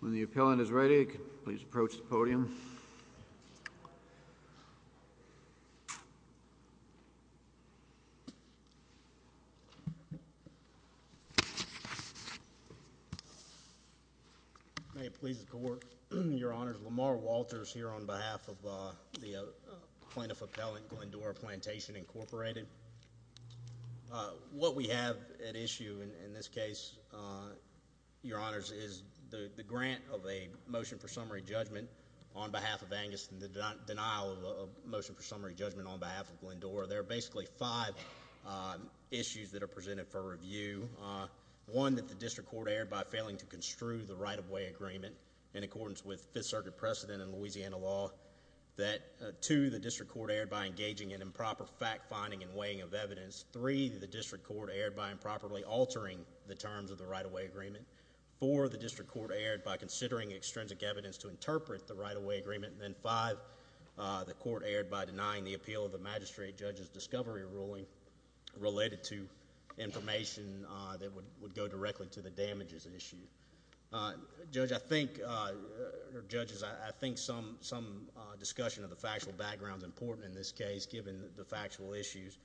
When the appellant is ready, please approach the podium. May it please the court, your honors, Lamar Walters here on behalf of the plaintiff appellant, Glendora Plantation, Incorporated. What we have at issue in this case, your honors, is the grant of a motion for summary judgment on behalf of Angus and the denial of a motion for summary judgment on behalf of Glendora. There are basically five issues that are presented for review. One, that the district court erred by failing to construe the right-of-way agreement in accordance with Fifth Circuit precedent in Louisiana law. Two, the district court erred by engaging in improper fact-finding and weighing of evidence. Three, the district court erred by improperly altering the terms of the right-of-way agreement. Four, the district court erred by considering extrinsic evidence to interpret the right-of-way agreement. And then five, the court erred by denying the appeal of the magistrate judge's discovery ruling related to information that would go directly to the damages issue. Judge, I think, or judges, I think some discussion of the factual background is important in this case, given the factual issues.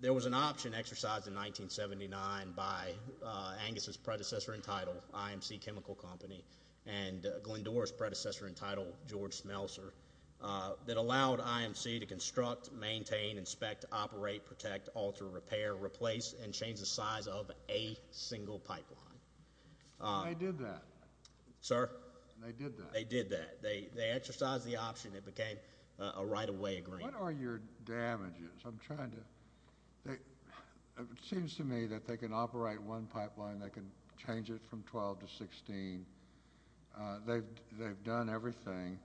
There was an option exercised in 1979 by Angus's predecessor in title, IMC Chemical Company, and Glendora's predecessor in title, George Smelser, that allowed IMC to construct, maintain, inspect, operate, protect, alter, repair, replace, and change the size of a single pipeline. They did that. Sir? They did that. They did that. They exercised the option. It became a right-of-way agreement. What are your damages? I'm trying to, it seems to me that they can operate one pipeline. They can change it from 12 to 16. They've done everything.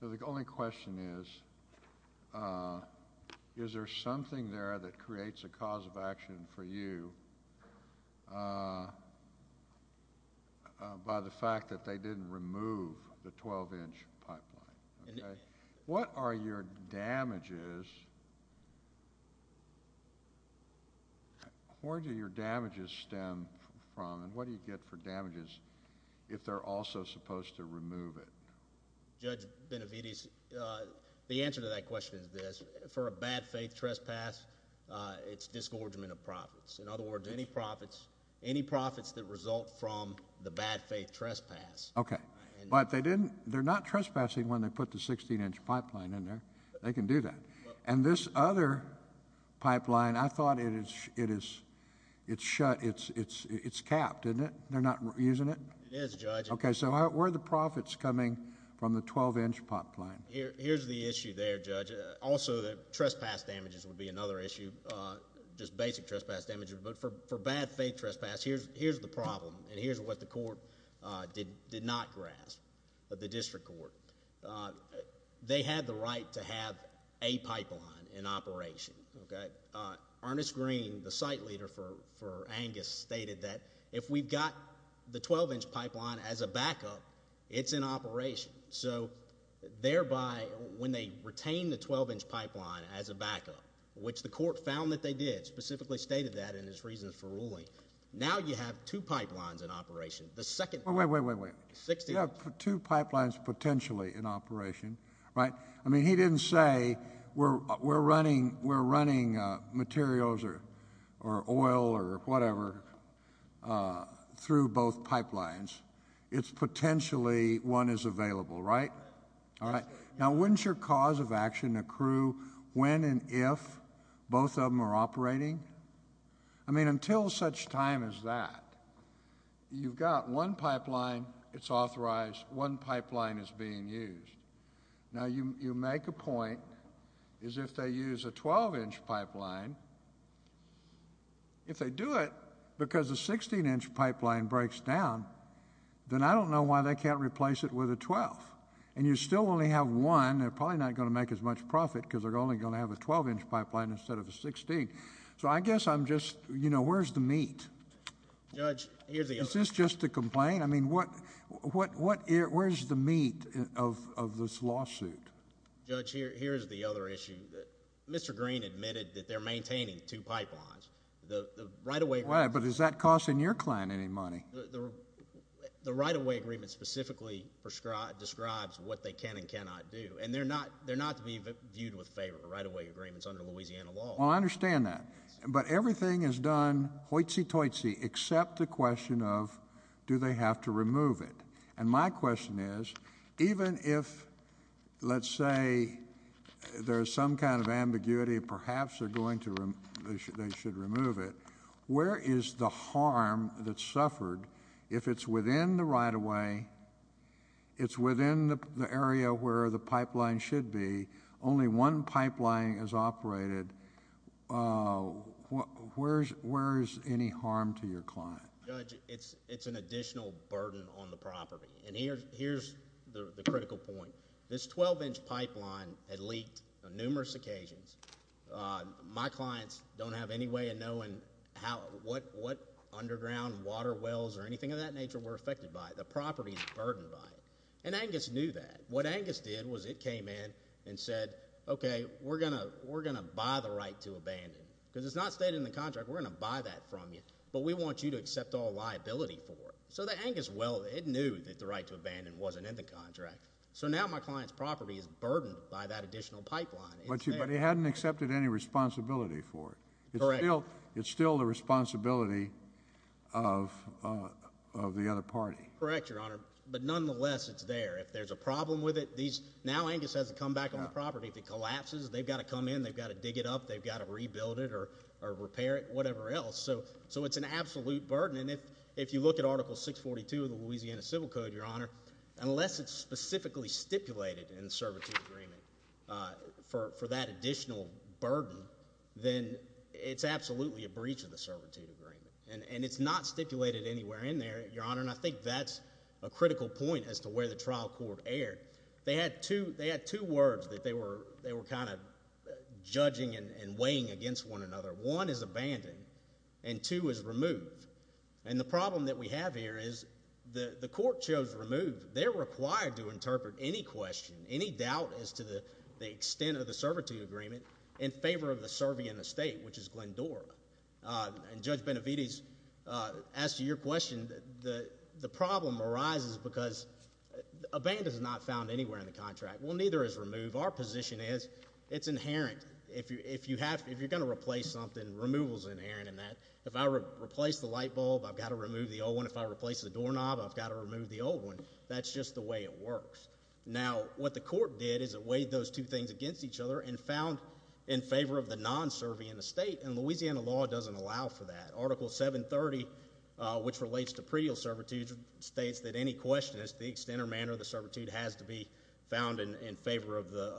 So the only question is, is there something there that creates a cause of action for you by the fact that they didn't remove the 12-inch pipeline, okay? What are your damages? Where do your damages stem from, and what do you get for damages if they're also supposed to remove it? Judge Benavides, the answer to that question is this. For a bad faith trespass, it's disgorgement of profits. In other words, any profits that result from the bad faith trespass. Okay. But they're not trespassing when they put the 16-inch pipeline in there. They can do that. And this other pipeline, I thought it's shut. It's capped, isn't it? They're not using it? It is, Judge. Okay, so where are the profits coming from the 12-inch pipeline? Here's the issue there, Judge. Also, the trespass damages would be another issue, just basic trespass damages. But for bad faith trespass, here's the problem, and here's what the court did not grasp of the district court. They had the right to have a pipeline in operation, okay? Ernest Green, the site leader for Angus, stated that if we've got the 12-inch pipeline as a backup, it's in operation. So thereby, when they retain the 12-inch pipeline as a backup, which the court found that they did, specifically stated that in its reasons for ruling, now you have two pipelines in operation. The second one. Wait, wait, wait, wait. You have two pipelines potentially in operation, right? I mean, he didn't say we're running materials or oil or whatever through both pipelines. It's potentially one is available, right? All right. Now, wouldn't your cause of action accrue when and if both of them are operating? I mean, until such time as that, you've got one pipeline, it's authorized, one pipeline is being used. Now, you make a point as if they use a 12-inch pipeline, if they do it because a 16-inch pipeline breaks down, then I don't know why they can't replace it with a 12. And you still only have one. They're probably not going to make as much profit because they're only going to have a 12-inch pipeline instead of a 16. So I guess I'm just, you know, where's the meat? Judge, here's the issue. Is this just to complain? I mean, where's the meat of this lawsuit? Judge, here's the other issue. Mr. Green admitted that they're maintaining two pipelines. Right, but is that costing your client any money? The right-of-way agreement specifically describes what they can and cannot do. And they're not to be viewed with favor, the right-of-way agreements under Louisiana law. Well, I understand that. But everything is done hoitsy-toitsy except the question of do they have to remove it. And my question is, even if, let's say, there's some kind of ambiguity, perhaps they should remove it, where is the harm that's suffered if it's within the right-of-way, it's within the area where the pipeline should be, only one pipeline is operated, where is any harm to your client? Judge, it's an additional burden on the property. And here's the critical point. This 12-inch pipeline had leaked on numerous occasions. My clients don't have any way of knowing what underground water wells or anything of that nature were affected by it. The property is burdened by it. And Angus knew that. And what Angus did was it came in and said, okay, we're going to buy the right to abandon. Because it's not stated in the contract, we're going to buy that from you, but we want you to accept all liability for it. So Angus, well, it knew that the right to abandon wasn't in the contract. So now my client's property is burdened by that additional pipeline. But he hadn't accepted any responsibility for it. Correct. It's still the responsibility of the other party. Correct, Your Honor. But nonetheless, it's there. If there's a problem with it, now Angus has to come back on the property. If it collapses, they've got to come in, they've got to dig it up, they've got to rebuild it or repair it, whatever else. So it's an absolute burden. And if you look at Article 642 of the Louisiana Civil Code, Your Honor, unless it's specifically stipulated in the servitude agreement for that additional burden, then it's absolutely a breach of the servitude agreement. And it's not stipulated anywhere in there, Your Honor. And I think that's a critical point as to where the trial court erred. They had two words that they were kind of judging and weighing against one another. One is abandon, and two is remove. And the problem that we have here is the court chose remove. They're required to interpret any question, any doubt as to the extent of the servitude agreement, in favor of the Servian estate, which is Glendora. And Judge Benavides, as to your question, the problem arises because abandon is not found anywhere in the contract. Well, neither is remove. Our position is it's inherent. If you're going to replace something, removal is inherent in that. If I replace the light bulb, I've got to remove the old one. If I replace the doorknob, I've got to remove the old one. That's just the way it works. Now, what the court did is it weighed those two things against each other and found in favor of the non-Servian estate. And Louisiana law doesn't allow for that. Article 730, which relates to predial servitude, states that any question as to the extent or manner of the servitude has to be found in favor of the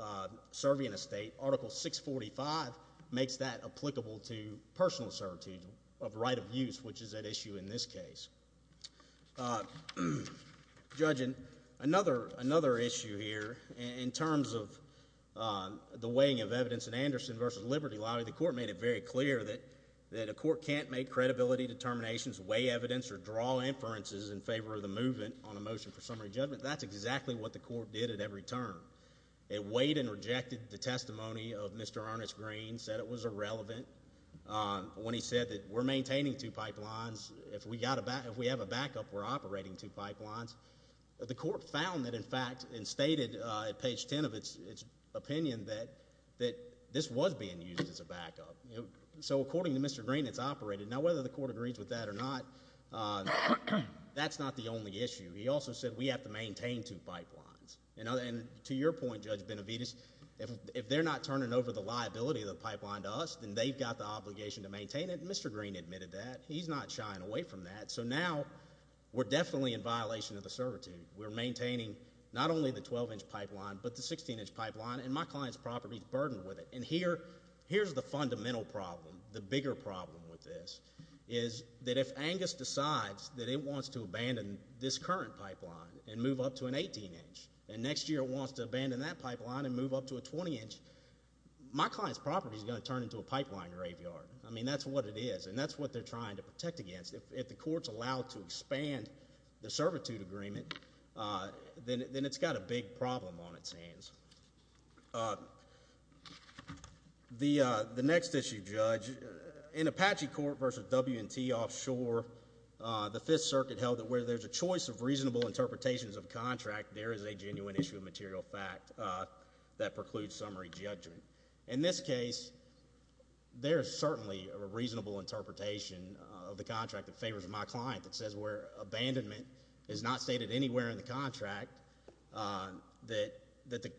Servian estate. Article 645 makes that applicable to personal servitude of right of use, which is at issue in this case. Judge, another issue here in terms of the weighing of evidence in Anderson v. Liberty Lobby, the court made it very clear that a court can't make credibility determinations, weigh evidence, or draw inferences in favor of the movement on a motion for summary judgment. That's exactly what the court did at every term. It weighed and rejected the testimony of Mr. Ernest Green, said it was irrelevant. When he said that we're maintaining two pipelines, if we have a backup, we're operating two pipelines, the court found that, in fact, and stated at page 10 of its opinion that this was being used as a backup. So according to Mr. Green, it's operated. Now, whether the court agrees with that or not, that's not the only issue. He also said we have to maintain two pipelines. And to your point, Judge Benavides, if they're not turning over the liability of the pipeline to us, then they've got the obligation to maintain it, and Mr. Green admitted that. He's not shying away from that. So now we're definitely in violation of the servitude. We're maintaining not only the 12-inch pipeline but the 16-inch pipeline, and my client's property is burdened with it. And here's the fundamental problem, the bigger problem with this, is that if Angus decides that it wants to abandon this current pipeline and move up to an 18-inch, and next year it wants to abandon that pipeline and move up to a 20-inch, my client's property is going to turn into a pipeline graveyard. I mean, that's what it is, and that's what they're trying to protect against. If the court's allowed to expand the servitude agreement, then it's got a big problem on its hands. The next issue, Judge, in Apache Court versus W&T offshore, the Fifth Circuit held that where there's a choice of reasonable interpretations of contract, there is a genuine issue of material fact that precludes summary judgment. In this case, there is certainly a reasonable interpretation of the contract that favors my client that says where abandonment is not stated anywhere in the contract that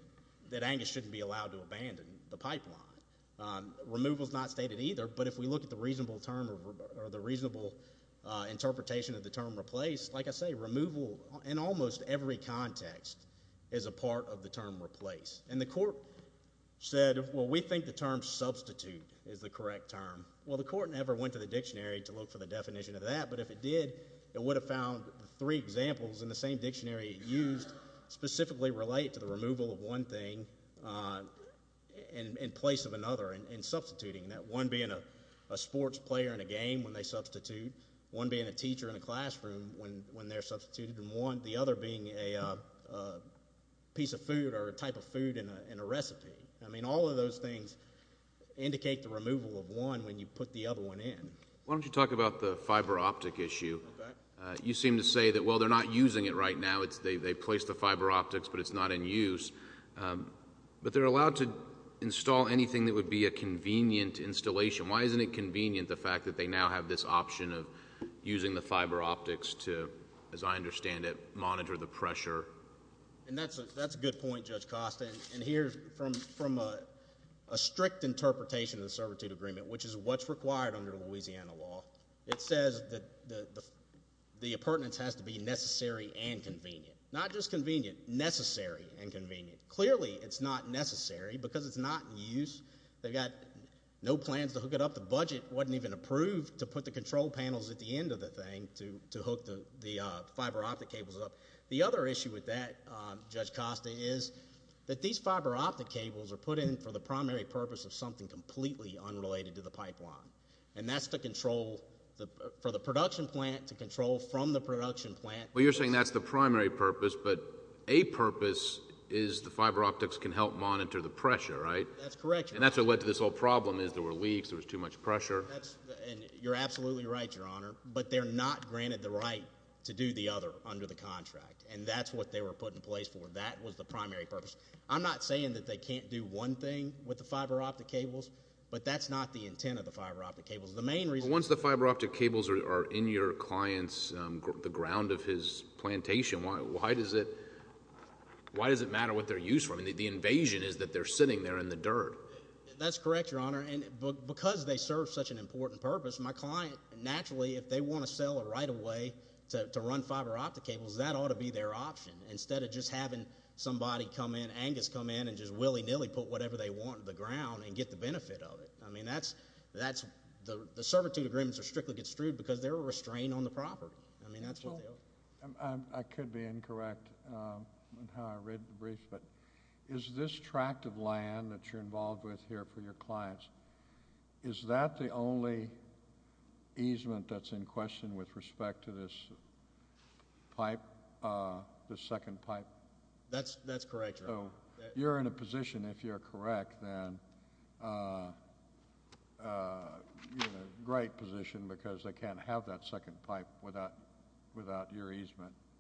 Angus shouldn't be allowed to abandon the pipeline. Removal is not stated either, but if we look at the reasonable interpretation of the term replaced, like I say, removal in almost every context is a part of the term replaced. And the court said, well, we think the term substitute is the correct term. Well, the court never went to the dictionary to look for the definition of that, but if it did, it would have found three examples in the same dictionary it used specifically relate to the removal of one thing in place of another and substituting that, one being a sports player in a game when they substitute, one being a teacher in a classroom when they're substituted, and the other being a piece of food or a type of food in a recipe. I mean, all of those things indicate the removal of one when you put the other one in. Why don't you talk about the fiber optic issue? You seem to say that, well, they're not using it right now. They placed the fiber optics, but it's not in use. But they're allowed to install anything that would be a convenient installation. Why isn't it convenient the fact that they now have this option of using the fiber optics to, as I understand it, monitor the pressure? And that's a good point, Judge Costa. And here, from a strict interpretation of the servitude agreement, which is what's required under Louisiana law, it says that the appurtenance has to be necessary and convenient. Not just convenient, necessary and convenient. Clearly, it's not necessary because it's not in use. They've got no plans to hook it up. The budget wasn't even approved to put the control panels at the end of the thing to hook the fiber optic cables up. The other issue with that, Judge Costa, is that these fiber optic cables are put in for the primary purpose of something completely unrelated to the pipeline. And that's for the production plant to control from the production plant. Well, you're saying that's the primary purpose, but a purpose is the fiber optics can help monitor the pressure, right? That's correct, Your Honor. And that's what led to this whole problem is there were leaks, there was too much pressure. You're absolutely right, Your Honor. But they're not granted the right to do the other under the contract. And that's what they were put in place for. That was the primary purpose. I'm not saying that they can't do one thing with the fiber optic cables, but that's not the intent of the fiber optic cables. The main reason— But once the fiber optic cables are in your client's, the ground of his plantation, why does it matter what they're used for? I mean, the invasion is that they're sitting there in the dirt. That's correct, Your Honor. And because they serve such an important purpose, my client, naturally, if they want to sell a right-of-way to run fiber optic cables, that ought to be their option instead of just having somebody come in, Angus come in, and just willy-nilly put whatever they want in the ground and get the benefit of it. I mean, that's—the servitude agreements are strictly construed because they're a restraint on the property. I mean, that's what they are. I could be incorrect in how I read the brief, but is this tract of land that you're involved with here for your clients, is that the only easement that's in question with respect to this pipe, this second pipe? That's correct, Your Honor. You're in a position, if you're correct, then—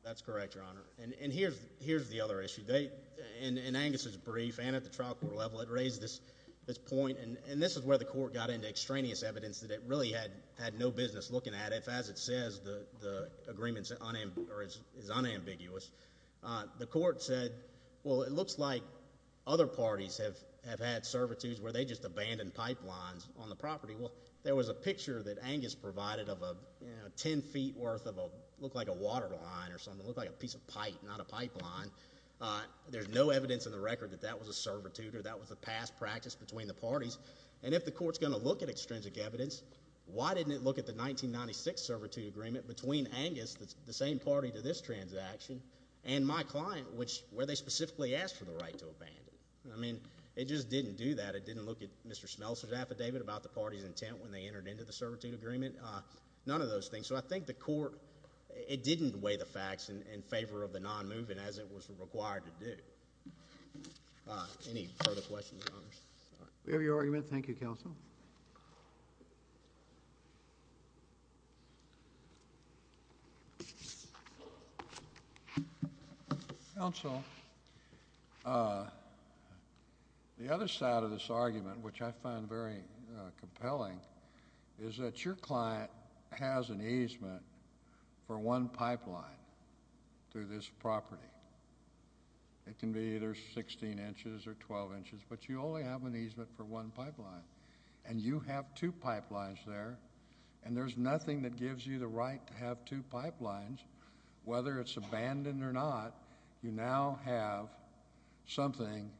That's correct, Your Honor. And here's the other issue. In Angus's brief, and at the trial court level, it raised this point, and this is where the court got into extraneous evidence that it really had no business looking at it. As it says, the agreement is unambiguous. The court said, well, it looks like other parties have had servitudes where they just abandoned pipelines on the property. Well, there was a picture that Angus provided of 10 feet worth of what looked like a water line or something. It looked like a piece of pipe, not a pipeline. There's no evidence in the record that that was a servitude or that was a past practice between the parties. And if the court's going to look at extrinsic evidence, why didn't it look at the 1996 servitude agreement between Angus, the same party to this transaction, and my client, where they specifically asked for the right to abandon? I mean, it just didn't do that. It didn't look at Mr. Schmelzer's affidavit about the party's intent when they entered into the servitude agreement. None of those things. So I think the court, it didn't weigh the facts in favor of the nonmovement as it was required to do. Any further questions, Your Honors? Counsel. The other side of this argument, which I find very compelling, is that your client has an easement for one pipeline through this property. It can be either 16 inches or 12 inches, but you only have an easement for one pipeline. And you have two pipelines there, and there's nothing that gives you the right to have two pipelines, whether it's abandoned or not. You now have something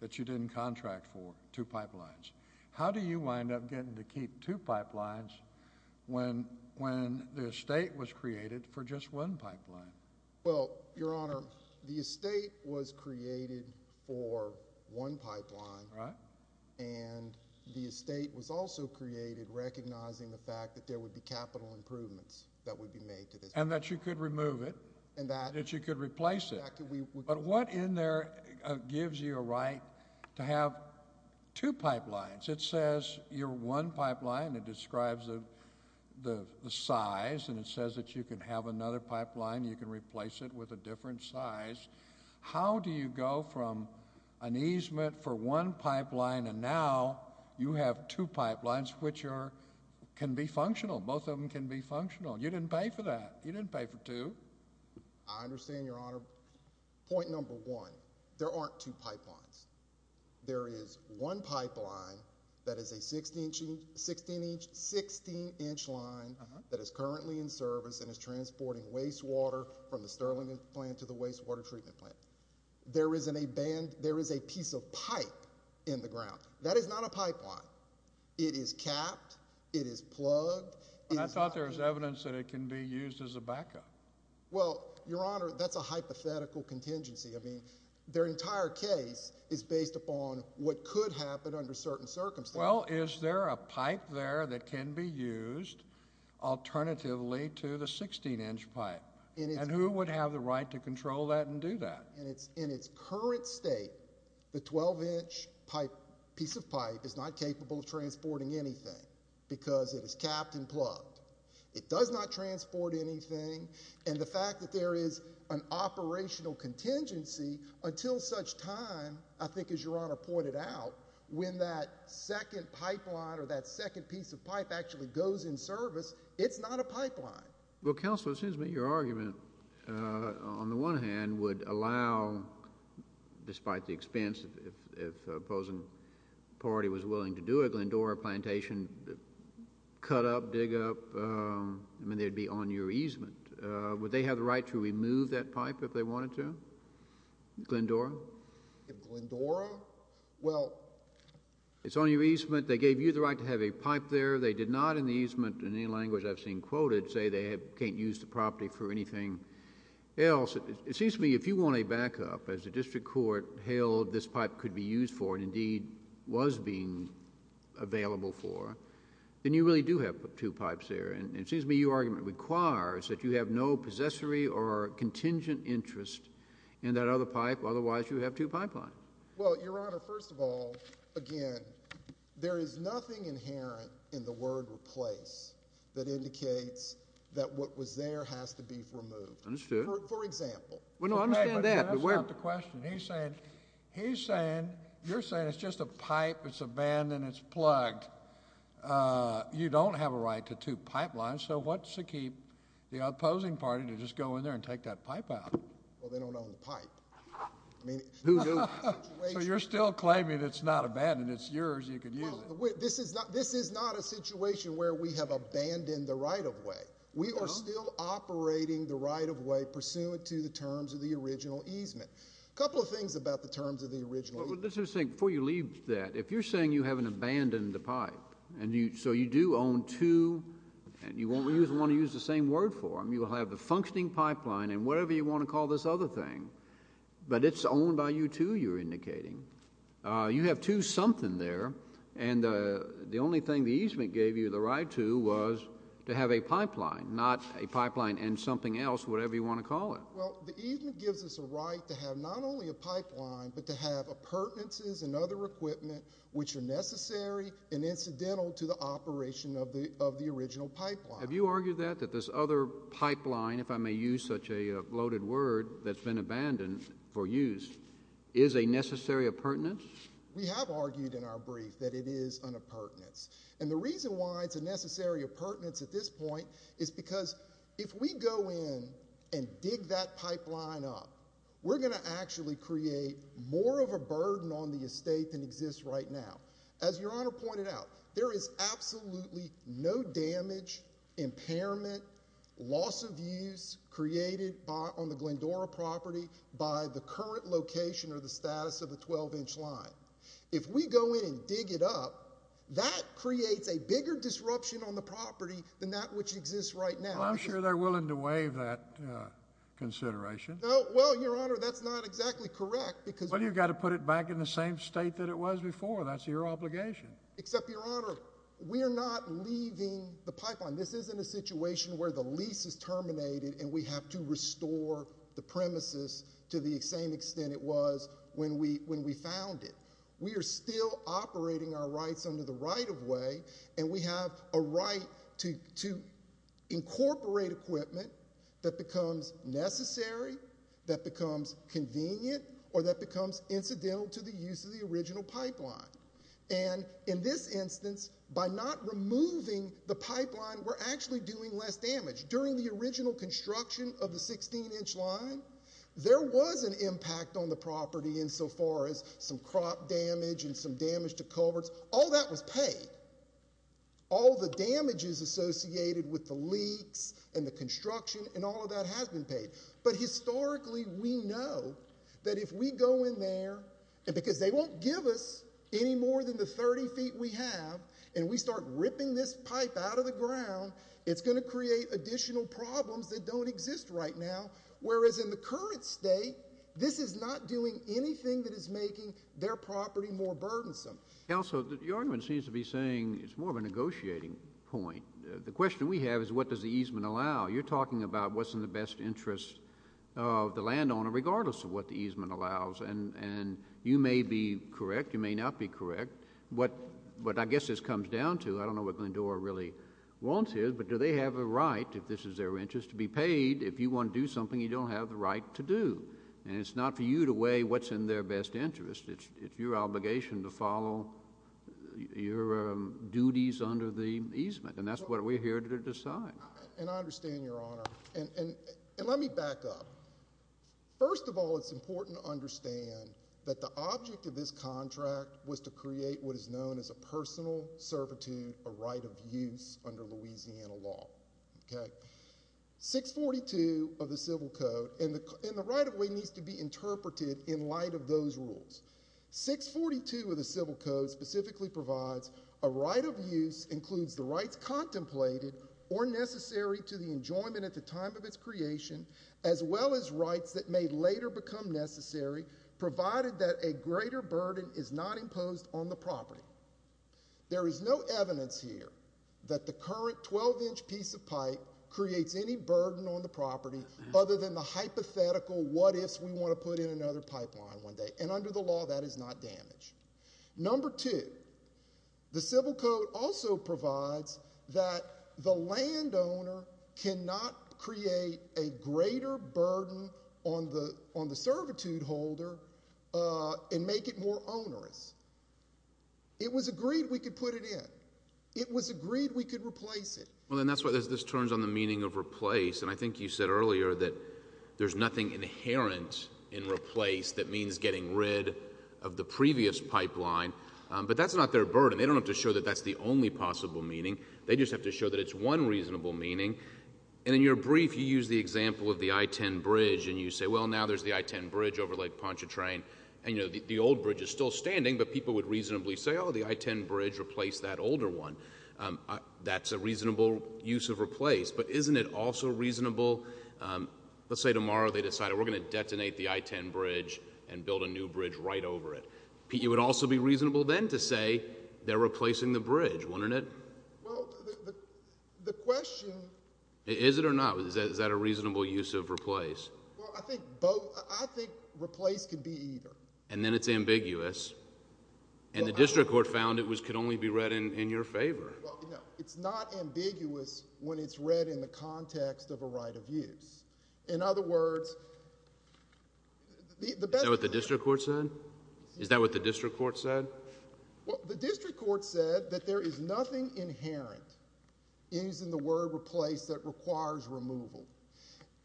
that you didn't contract for, two pipelines. How do you wind up getting to keep two pipelines when the estate was created for just one pipeline? Well, Your Honor, the estate was created for one pipeline, and the estate was also created recognizing the fact that there would be capital improvements that would be made to this. And that you could remove it and that you could replace it. But what in there gives you a right to have two pipelines? It says you're one pipeline. It describes the size, and it says that you can have another pipeline. You can replace it with a different size. How do you go from an easement for one pipeline, and now you have two pipelines, which can be functional. Both of them can be functional. You didn't pay for that. You didn't pay for two. I understand, Your Honor. Point number one, there aren't two pipelines. There is one pipeline that is a 16-inch line that is currently in service and is transporting wastewater from the Sterling plant to the wastewater treatment plant. There is a piece of pipe in the ground. That is not a pipeline. It is capped. It is plugged. I thought there was evidence that it can be used as a backup. Well, Your Honor, that's a hypothetical contingency. I mean, their entire case is based upon what could happen under certain circumstances. Well, is there a pipe there that can be used alternatively to the 16-inch pipe? And who would have the right to control that and do that? In its current state, the 12-inch piece of pipe is not capable of transporting anything because it is capped and plugged. It does not transport anything. And the fact that there is an operational contingency until such time, I think as Your Honor pointed out, when that second pipeline or that second piece of pipe actually goes in service, it's not a pipeline. Well, Counselor, it seems to me your argument, on the one hand, would allow, despite the expense, if the opposing party was willing to do it, Glendora Plantation, cut up, dig up, I mean, they'd be on your easement. Would they have the right to remove that pipe if they wanted to? Glendora? Glendora? Well... It's on your easement. They gave you the right to have a pipe there. They did not, in the easement, in any language I've seen quoted, say they can't use the property for anything else. It seems to me if you want a backup, as the district court hailed this pipe could be used for, and indeed was being available for, then you really do have two pipes there. And it seems to me your argument requires that you have no possessory or contingent interest in that other pipe. Otherwise, you have two pipelines. Well, Your Honor, first of all, again, there is nothing inherent in the word replace that indicates that what was there has to be removed. Understood. For example... Well, no, I understand that, but where... That's not the question. He's saying, you're saying it's just a pipe, it's abandoned, it's plugged. You don't have a right to two pipelines, so what's to keep the opposing party to just go in there and take that pipe out? Well, they don't own the pipe. I mean... So you're still claiming it's not abandoned, it's yours, you can use it. This is not a situation where we have abandoned the right-of-way. We are still operating the right-of-way pursuant to the terms of the original easement. A couple of things about the terms of the original easement... But what this is saying, before you leave that, if you're saying you haven't abandoned the pipe, and so you do own two, and you won't want to use the same word for them, you'll have the functioning pipeline and whatever you want to call this other thing, but it's owned by you two, you're indicating. You have two something there, and the only thing the easement gave you the right to was to have a pipeline, not a pipeline and something else, whatever you want to call it. Well, the easement gives us a right to have not only a pipeline, but to have appurtenances and other equipment which are necessary and incidental to the operation of the original pipeline. Have you argued that, that this other pipeline, if I may use such a bloated word that's been abandoned for use, is a necessary appurtenance? We have argued in our brief that it is an appurtenance. And the reason why it's a necessary appurtenance at this point is because if we go in and dig that pipeline up, we're going to actually create more of a burden on the estate than exists right now. As Your Honor pointed out, there is absolutely no damage, impairment, loss of use created on the Glendora property by the current location or the status of the 12-inch line. If we go in and dig it up, that creates a bigger disruption on the property than that which exists right now. Well, I'm sure they're willing to waive that consideration. Well, Your Honor, that's not exactly correct because— Well, you've got to put it back in the same state that it was before. That's your obligation. Except, Your Honor, we are not leaving the pipeline. This isn't a situation where the lease is terminated and we have to restore the premises to the same extent it was when we found it. We are still operating our rights under the right-of-way, and we have a right to incorporate equipment that becomes necessary, that becomes convenient, or that becomes incidental to the use of the original pipeline. And in this instance, by not removing the pipeline, we're actually doing less damage. During the original construction of the 16-inch line, there was an impact on the property insofar as some crop damage and some damage to culverts. All that was paid. All the damages associated with the leaks and the construction and all of that has been paid. But historically, we know that if we go in there— and because they won't give us any more than the 30 feet we have, and we start ripping this pipe out of the ground, it's going to create additional problems that don't exist right now. Whereas in the current state, this is not doing anything that is making their property more burdensome. Also, the argument seems to be saying it's more of a negotiating point. The question we have is what does the easement allow? You're talking about what's in the best interest of the landowner regardless of what the easement allows, and you may be correct, you may not be correct. What I guess this comes down to—I don't know what Glendora really wants here, but do they have a right, if this is their interest, to be paid if you want to do something you don't have the right to do? And it's not for you to weigh what's in their best interest. It's your obligation to follow your duties under the easement, and that's what we're here to decide. And I understand, Your Honor. And let me back up. First of all, it's important to understand that the object of this contract was to create what is known as a personal servitude, a right of use under Louisiana law. 642 of the Civil Code—and the right of way needs to be interpreted in light of those rules. 642 of the Civil Code specifically provides a right of use includes the rights contemplated or necessary to the enjoyment at the time of its creation, as well as rights that may later become necessary provided that a greater burden is not imposed on the property. There is no evidence here that the current 12-inch piece of pipe creates any burden on the property other than the hypothetical what-ifs we want to put in another pipeline one day. And under the law, that is not damaged. Number two, the Civil Code also provides that the landowner cannot create a greater burden on the servitude holder and make it more onerous. It was agreed we could put it in. It was agreed we could replace it. Well, and that's why this turns on the meaning of replace. And I think you said earlier that there's nothing inherent in replace that means getting rid of the previous pipeline. But that's not their burden. They don't have to show that that's the only possible meaning. They just have to show that it's one reasonable meaning. And in your brief, you use the example of the I-10 bridge, and you say, well, now there's the I-10 bridge over Lake Pontchartrain. And, you know, the old bridge is still standing, but people would reasonably say, oh, the I-10 bridge replaced that older one. That's a reasonable use of replace. But isn't it also reasonable, let's say tomorrow they decide we're going to detonate the I-10 bridge and build a new bridge right over it. It would also be reasonable then to say they're replacing the bridge, wouldn't it? Well, the question – Is it or not? Is that a reasonable use of replace? Well, I think both. I think replace could be either. And then it's ambiguous. And the district court found it could only be read in your favor. Well, no, it's not ambiguous when it's read in the context of a right of use. In other words – Is that what the district court said? Is that what the district court said? Well, the district court said that there is nothing inherent in using the word replace that requires removal.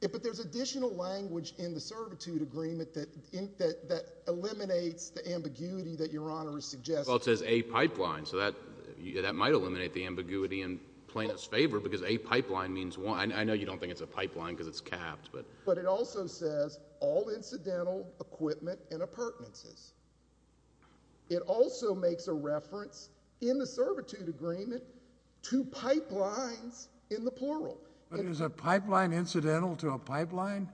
But there's additional language in the servitude agreement that eliminates the ambiguity that Your Honor is suggesting. Well, it says a pipeline, so that might eliminate the ambiguity in plaintiff's favor because a pipeline means one. I know you don't think it's a pipeline because it's capped. But it also says all incidental equipment and appurtenances. It also makes a reference in the servitude agreement to pipelines in the plural. But is a pipeline incidental to a pipeline?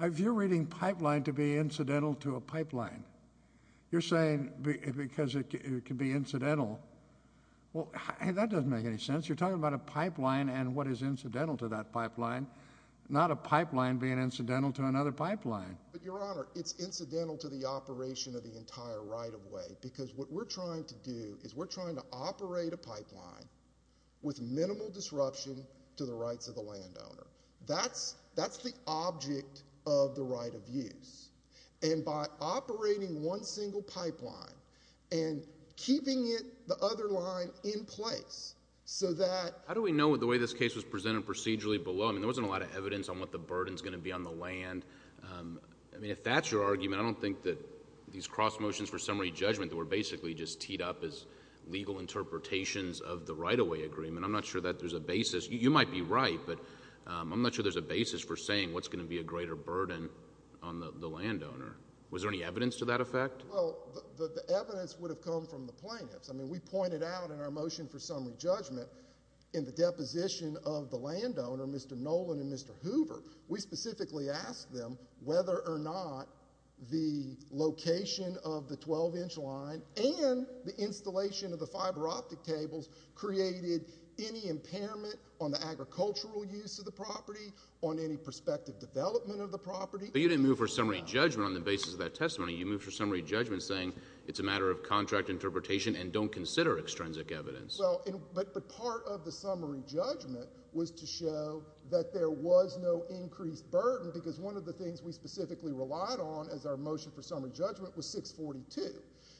If you're reading pipeline to be incidental to a pipeline, you're saying because it can be incidental. Well, that doesn't make any sense. You're talking about a pipeline and what is incidental to that pipeline, not a pipeline being incidental to another pipeline. But, Your Honor, it's incidental to the operation of the entire right-of-way because what we're trying to do is we're trying to operate a pipeline with minimal disruption to the rights of the landowner. That's the object of the right of use. And by operating one single pipeline and keeping it, the other line, in place so that... How do we know the way this case was presented procedurally below? I mean, there wasn't a lot of evidence on what the burden is going to be on the land. I mean, if that's your argument, I don't think that these cross motions for summary judgment that were basically just teed up as legal interpretations of the right-of-way agreement. I'm not sure that there's a basis. You might be right, but I'm not sure there's a basis for saying what's going to be a greater burden on the landowner. Was there any evidence to that effect? Well, the evidence would have come from the plaintiffs. I mean, we pointed out in our motion for summary judgment in the deposition of the landowner, Mr. Nolan and Mr. Hoover, we specifically asked them whether or not the location of the 12-inch line and the installation of the fiber optic tables created any impairment on the agricultural use of the property, on any prospective development of the property. But you didn't move for summary judgment on the basis of that testimony. You moved for summary judgment saying it's a matter of contract interpretation and don't consider extrinsic evidence. Well, but part of the summary judgment was to show that there was no increased burden because one of the things we specifically relied on as our motion for summary judgment was 642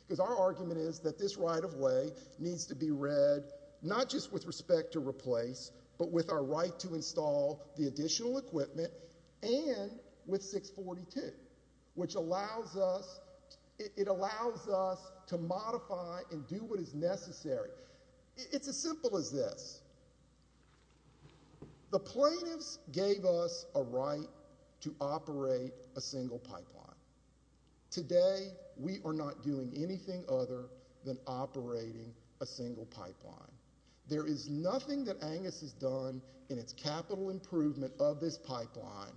because our argument is that this right-of-way needs to be read not just with respect to replace but with our right to install the additional equipment and with 642, which allows us to modify and do what is necessary. It's as simple as this. The plaintiffs gave us a right to operate a single pipeline. Today, we are not doing anything other than operating a single pipeline. There is nothing that Angus has done in its capital improvement of this pipeline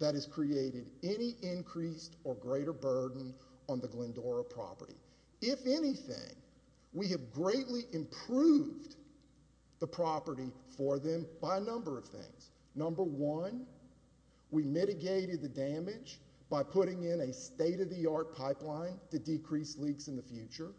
that has created any increased or greater burden on the Glendora property. If anything, we have greatly improved the property for them by a number of things. Number one, we mitigated the damage by putting in a state-of-the-art pipeline to decrease leaks in the future.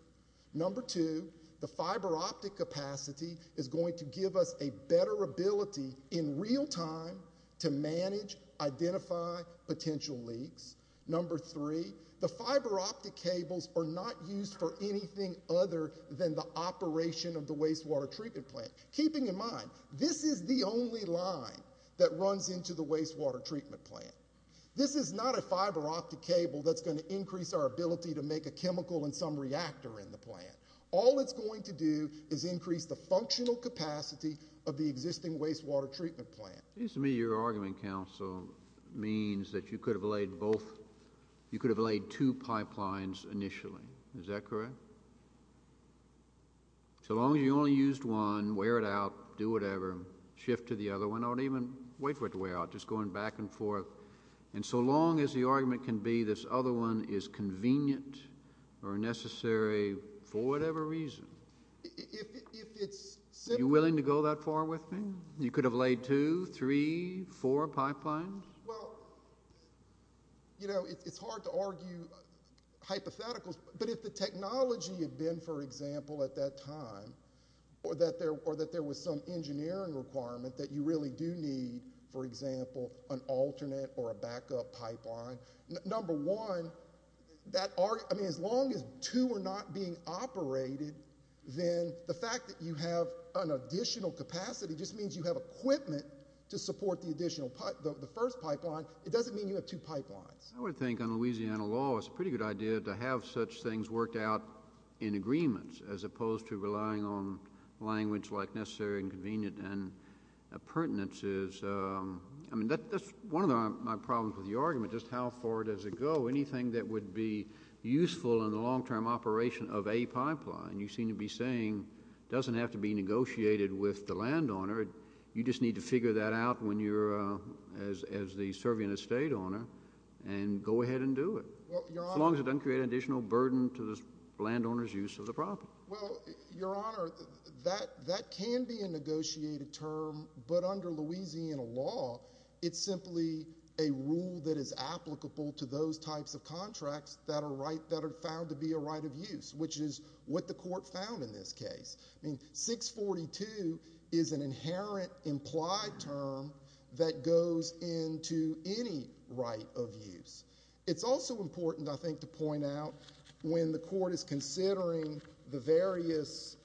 Number two, the fiber optic capacity is going to give us a better ability in real time to manage, identify potential leaks. Number three, the fiber optic cables are not used for anything other than the operation of the wastewater treatment plant. Keeping in mind, this is the only line that runs into the wastewater treatment plant. This is not a fiber optic cable that's going to increase our ability to make a chemical in some reactor in the plant. All it's going to do is increase the functional capacity of the existing wastewater treatment plant. It seems to me your argument, counsel, means that you could have laid two pipelines initially. Is that correct? So long as you only used one, wear it out, do whatever, shift to the other one. Don't even wait for it to wear out, just going back and forth. So long as the argument can be this other one is convenient or necessary for whatever reason. Are you willing to go that far with me? You could have laid two, three, four pipelines? Well, you know, it's hard to argue hypotheticals, but if the technology had been, for example, at that time, or that there was some engineering requirement that you really do need, for example, an alternate or a backup pipeline, number one, as long as two are not being operated, then the fact that you have an additional capacity just means you have equipment to support the additional pipeline. If you have the first pipeline, it doesn't mean you have two pipelines. I would think on Louisiana law it's a pretty good idea to have such things worked out in agreements as opposed to relying on language like necessary and convenient and pertinences. I mean, that's one of my problems with your argument, just how far does it go? Anything that would be useful in the long-term operation of a pipeline, you seem to be saying doesn't have to be negotiated with the landowner. You just need to figure that out as the serving estate owner and go ahead and do it, as long as it doesn't create an additional burden to the landowner's use of the property. Well, Your Honor, that can be a negotiated term, but under Louisiana law, it's simply a rule that is applicable to those types of contracts that are found to be a right of use, which is what the court found in this case. I mean, 642 is an inherent implied term that goes into any right of use. It's also important, I think, to point out when the court is considering the various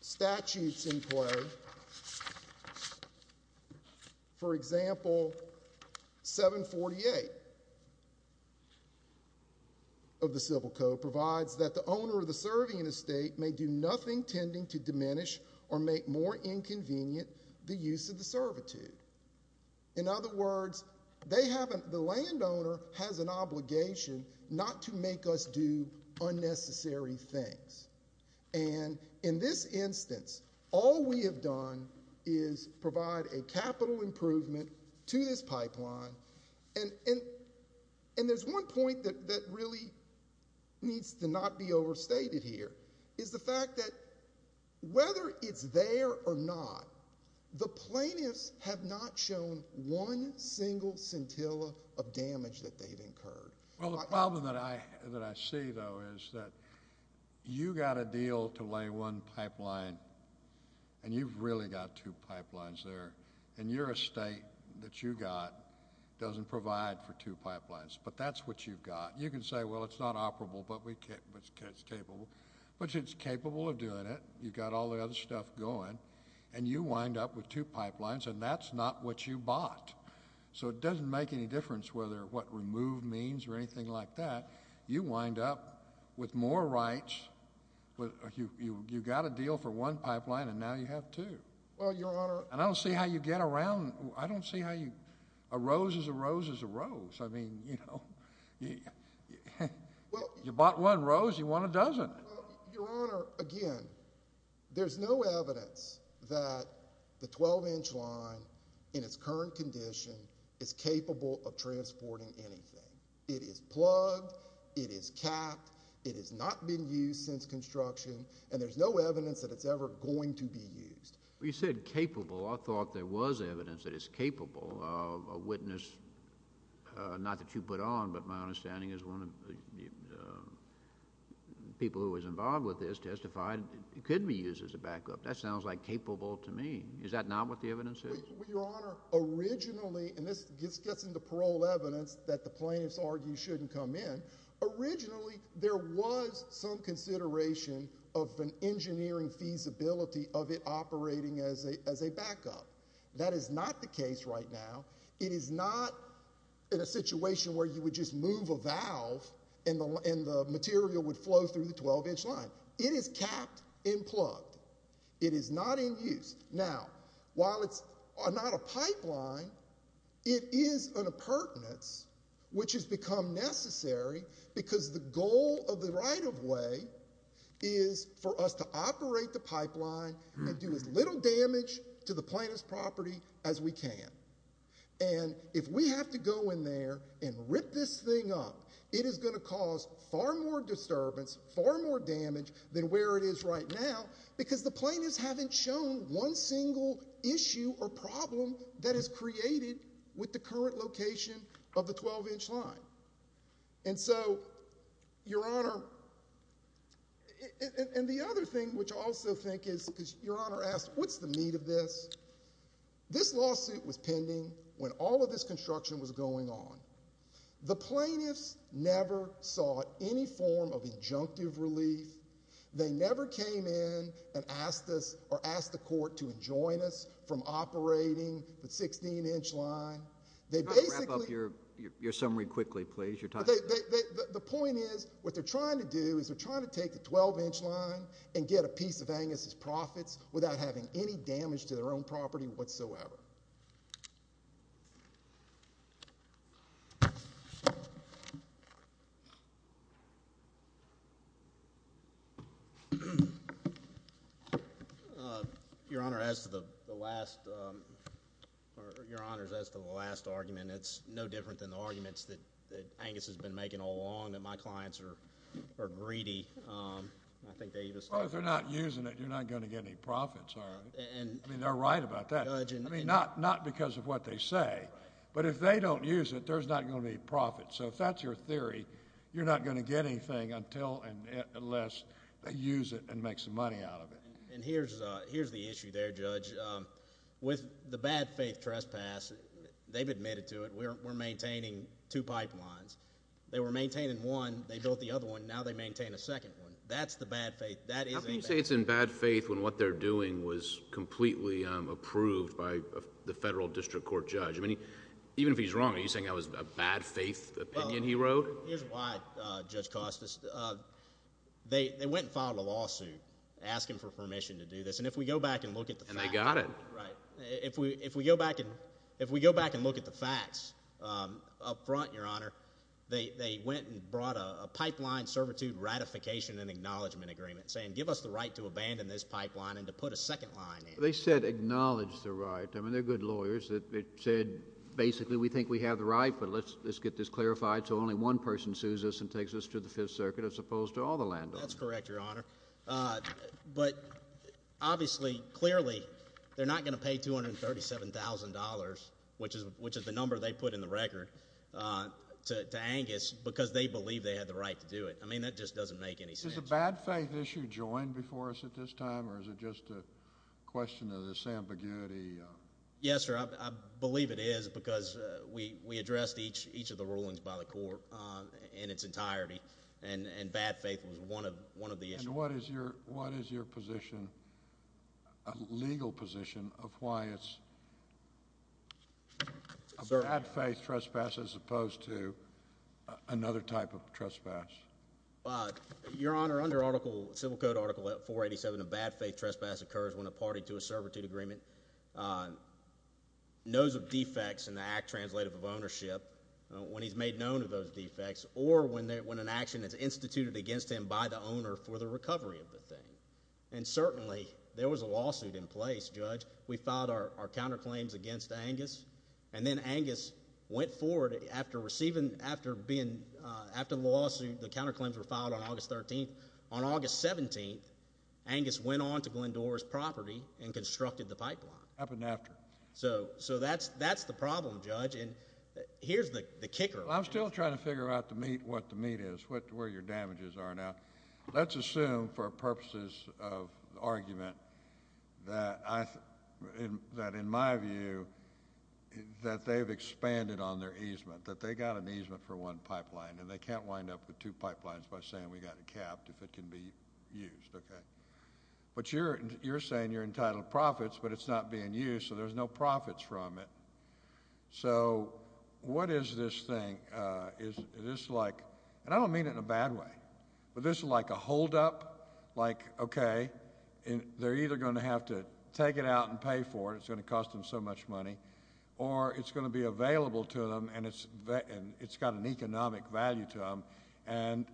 statutes in play, for example, 748 of the Civil Code provides that the owner of the serving estate may do nothing tending to diminish or make more inconvenient the use of the servitude. In other words, the landowner has an obligation not to make us do unnecessary things. And in this instance, all we have done is provide a capital improvement to this pipeline. And there's one point that really needs to not be overstated here, is the fact that whether it's there or not, the plaintiffs have not shown one single scintilla of damage that they've incurred. Well, the problem that I see, though, is that you got a deal to lay one pipeline, and you've really got two pipelines there, and your estate that you got doesn't provide for two pipelines, but that's what you've got. You can say, well, it's not operable, but it's capable of doing it. You've got all the other stuff going, and you wind up with two pipelines, and that's not what you bought. So it doesn't make any difference whether what removed means or anything like that. You wind up with more rights. You got a deal for one pipeline, and now you have two. And I don't see how you get around. I don't see how a rose is a rose is a rose. I mean, you know, you bought one rose. You want a dozen. Your Honor, again, there's no evidence that the 12-inch line in its current condition is capable of transporting anything. It is plugged. It is capped. It has not been used since construction, and there's no evidence that it's ever going to be used. You said capable. I thought there was evidence that it's capable. A witness, not that you put on, but my understanding is one of the people who was involved with this testified it could be used as a backup. That sounds like capable to me. Is that not what the evidence is? Well, Your Honor, originally, and this gets into parole evidence that the plaintiffs argue shouldn't come in. Originally, there was some consideration of an engineering feasibility of it operating as a backup. That is not the case right now. It is not in a situation where you would just move a valve and the material would flow through the 12-inch line. It is capped and plugged. It is not in use. Now, while it's not a pipeline, it is an appurtenance which has become necessary because the goal of the right-of-way is for us to operate the pipeline and do as little damage to the plaintiff's property as we can. And if we have to go in there and rip this thing up, it is going to cause far more disturbance, far more damage than where it is right now because the plaintiffs haven't shown one single issue or problem that is created with the current location of the 12-inch line. And so, Your Honor, and the other thing which I also think is, because Your Honor asked, what's the meat of this? This lawsuit was pending when all of this construction was going on. The plaintiffs never sought any form of injunctive relief. They never came in and asked us or asked the court to enjoin us from operating the 16-inch line. Can you wrap up your summary quickly, please? The point is, what they're trying to do is they're trying to take the 12-inch line and get a piece of Angus' profits without having any damage to their own property whatsoever. Your Honor, as to the last argument, it's no different than the arguments that Angus has been making all along, that my clients are greedy. Well, if they're not using it, you're not going to get any profits out of it. I mean, they're right about that. I mean, not because of what they say, but if they don't use it, there's not going to be profits. If that's your theory, you're not going to get anything unless they use it and make some money out of it. Here's the issue there, Judge. With the bad faith trespass, they've admitted to it. We're maintaining two pipelines. They were maintaining one. They built the other one. Now, they maintain a second one. That's the bad faith. How can you say it's in bad faith when what they're doing was completely approved by the federal district court judge? I mean, even if he's wrong, are you saying that was a bad faith opinion he wrote? Here's why, Judge Costas. They went and filed a lawsuit asking for permission to do this, and if we go back and look at the facts. And they got it. Right. If we go back and look at the facts up front, Your Honor, they went and brought a pipeline servitude ratification and acknowledgement agreement saying give us the right to abandon this pipeline and to put a second line in. They said acknowledge the right. I mean, they're good lawyers that said basically we think we have the right, but let's get this clarified so only one person sues us and takes us to the Fifth Circuit as opposed to all the landowners. That's correct, Your Honor. But obviously, clearly, they're not going to pay $237,000, which is the number they put in the record, to Angus because they believe they had the right to do it. I mean, that just doesn't make any sense. Is the bad faith issue joined before us at this time, or is it just a question of this ambiguity? Yes, sir. I believe it is because we addressed each of the rulings by the court in its entirety, and bad faith was one of the issues. And what is your position, a legal position, of why it's a bad faith trespass as opposed to another type of trespass? Your Honor, under Article – Civil Code Article 487, a bad faith trespass occurs when a party to a servitude agreement knows of defects in the act translative of ownership, when he's made known of those defects, or when an action is instituted against him by the owner for the recovery of the thing. And certainly, there was a lawsuit in place, Judge. We filed our counterclaims against Angus, and then Angus went forward after receiving – after being – after the lawsuit, the counterclaims were filed on August 13th. On August 17th, Angus went on to Glendora's property and constructed the pipeline. Up and after. So that's the problem, Judge, and here's the kicker. Well, I'm still trying to figure out the meat, what the meat is, where your damages are. Now, let's assume for purposes of argument that I – that in my view, that they've expanded on their easement, that they got an easement for one pipeline, and they can't wind up with two pipelines by saying we got it capped if it can be used, okay? But you're saying you're entitled to profits, but it's not being used, so there's no profits from it. So what is this thing? Is this like – and I don't mean it in a bad way, but this is like a holdup, like, okay, they're either going to have to take it out and pay for it, it's going to cost them so much money, or it's going to be available to them and it's got an economic value to them, and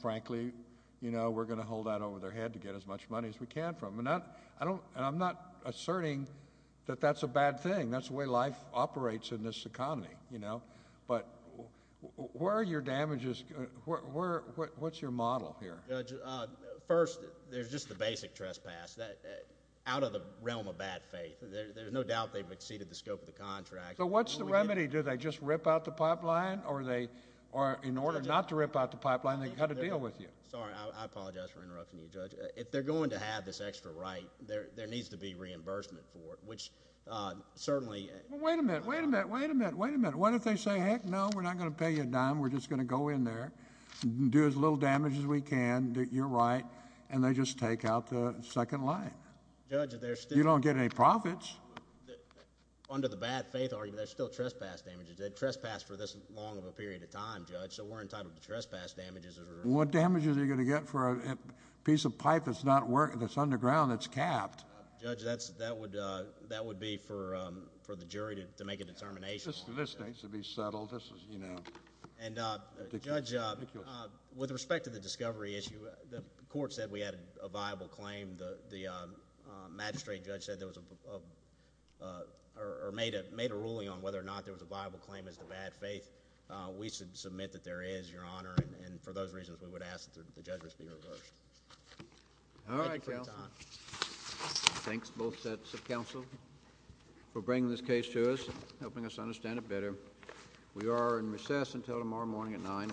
frankly, you know, we're going to hold that over their head to get as much money as we can from them. And I'm not asserting that that's a bad thing. That's the way life operates in this economy, you know. But where are your damages – what's your model here? Judge, first, there's just the basic trespass, out of the realm of bad faith. There's no doubt they've exceeded the scope of the contract. So what's the remedy? Do they just rip out the pipeline, or in order not to rip out the pipeline, they've got to deal with you? Sorry, I apologize for interrupting you, Judge. If they're going to have this extra right, there needs to be reimbursement for it, which certainly – Wait a minute, wait a minute, wait a minute, wait a minute. What if they say, heck no, we're not going to pay you a dime, we're just going to go in there, do as little damage as we can, you're right, and they just take out the second line? Judge, there's still – You don't get any profits. Under the bad faith argument, there's still trespass damages. They trespassed for this long of a period of time, Judge, so we're entitled to trespass damages. What damages are you going to get for a piece of pipe that's not working, that's underground, that's capped? Judge, that would be for the jury to make a determination. This needs to be settled. And Judge, with respect to the discovery issue, the court said we had a viable claim. The magistrate judge said there was a – or made a ruling on whether or not there was a viable claim as to bad faith. We submit that there is, Your Honor, and for those reasons we would ask that the judgment be reversed. Thank you for your time. Thanks both sets of counsel for bringing this case to us, helping us understand it better. We are in recess until tomorrow morning at 9 o'clock.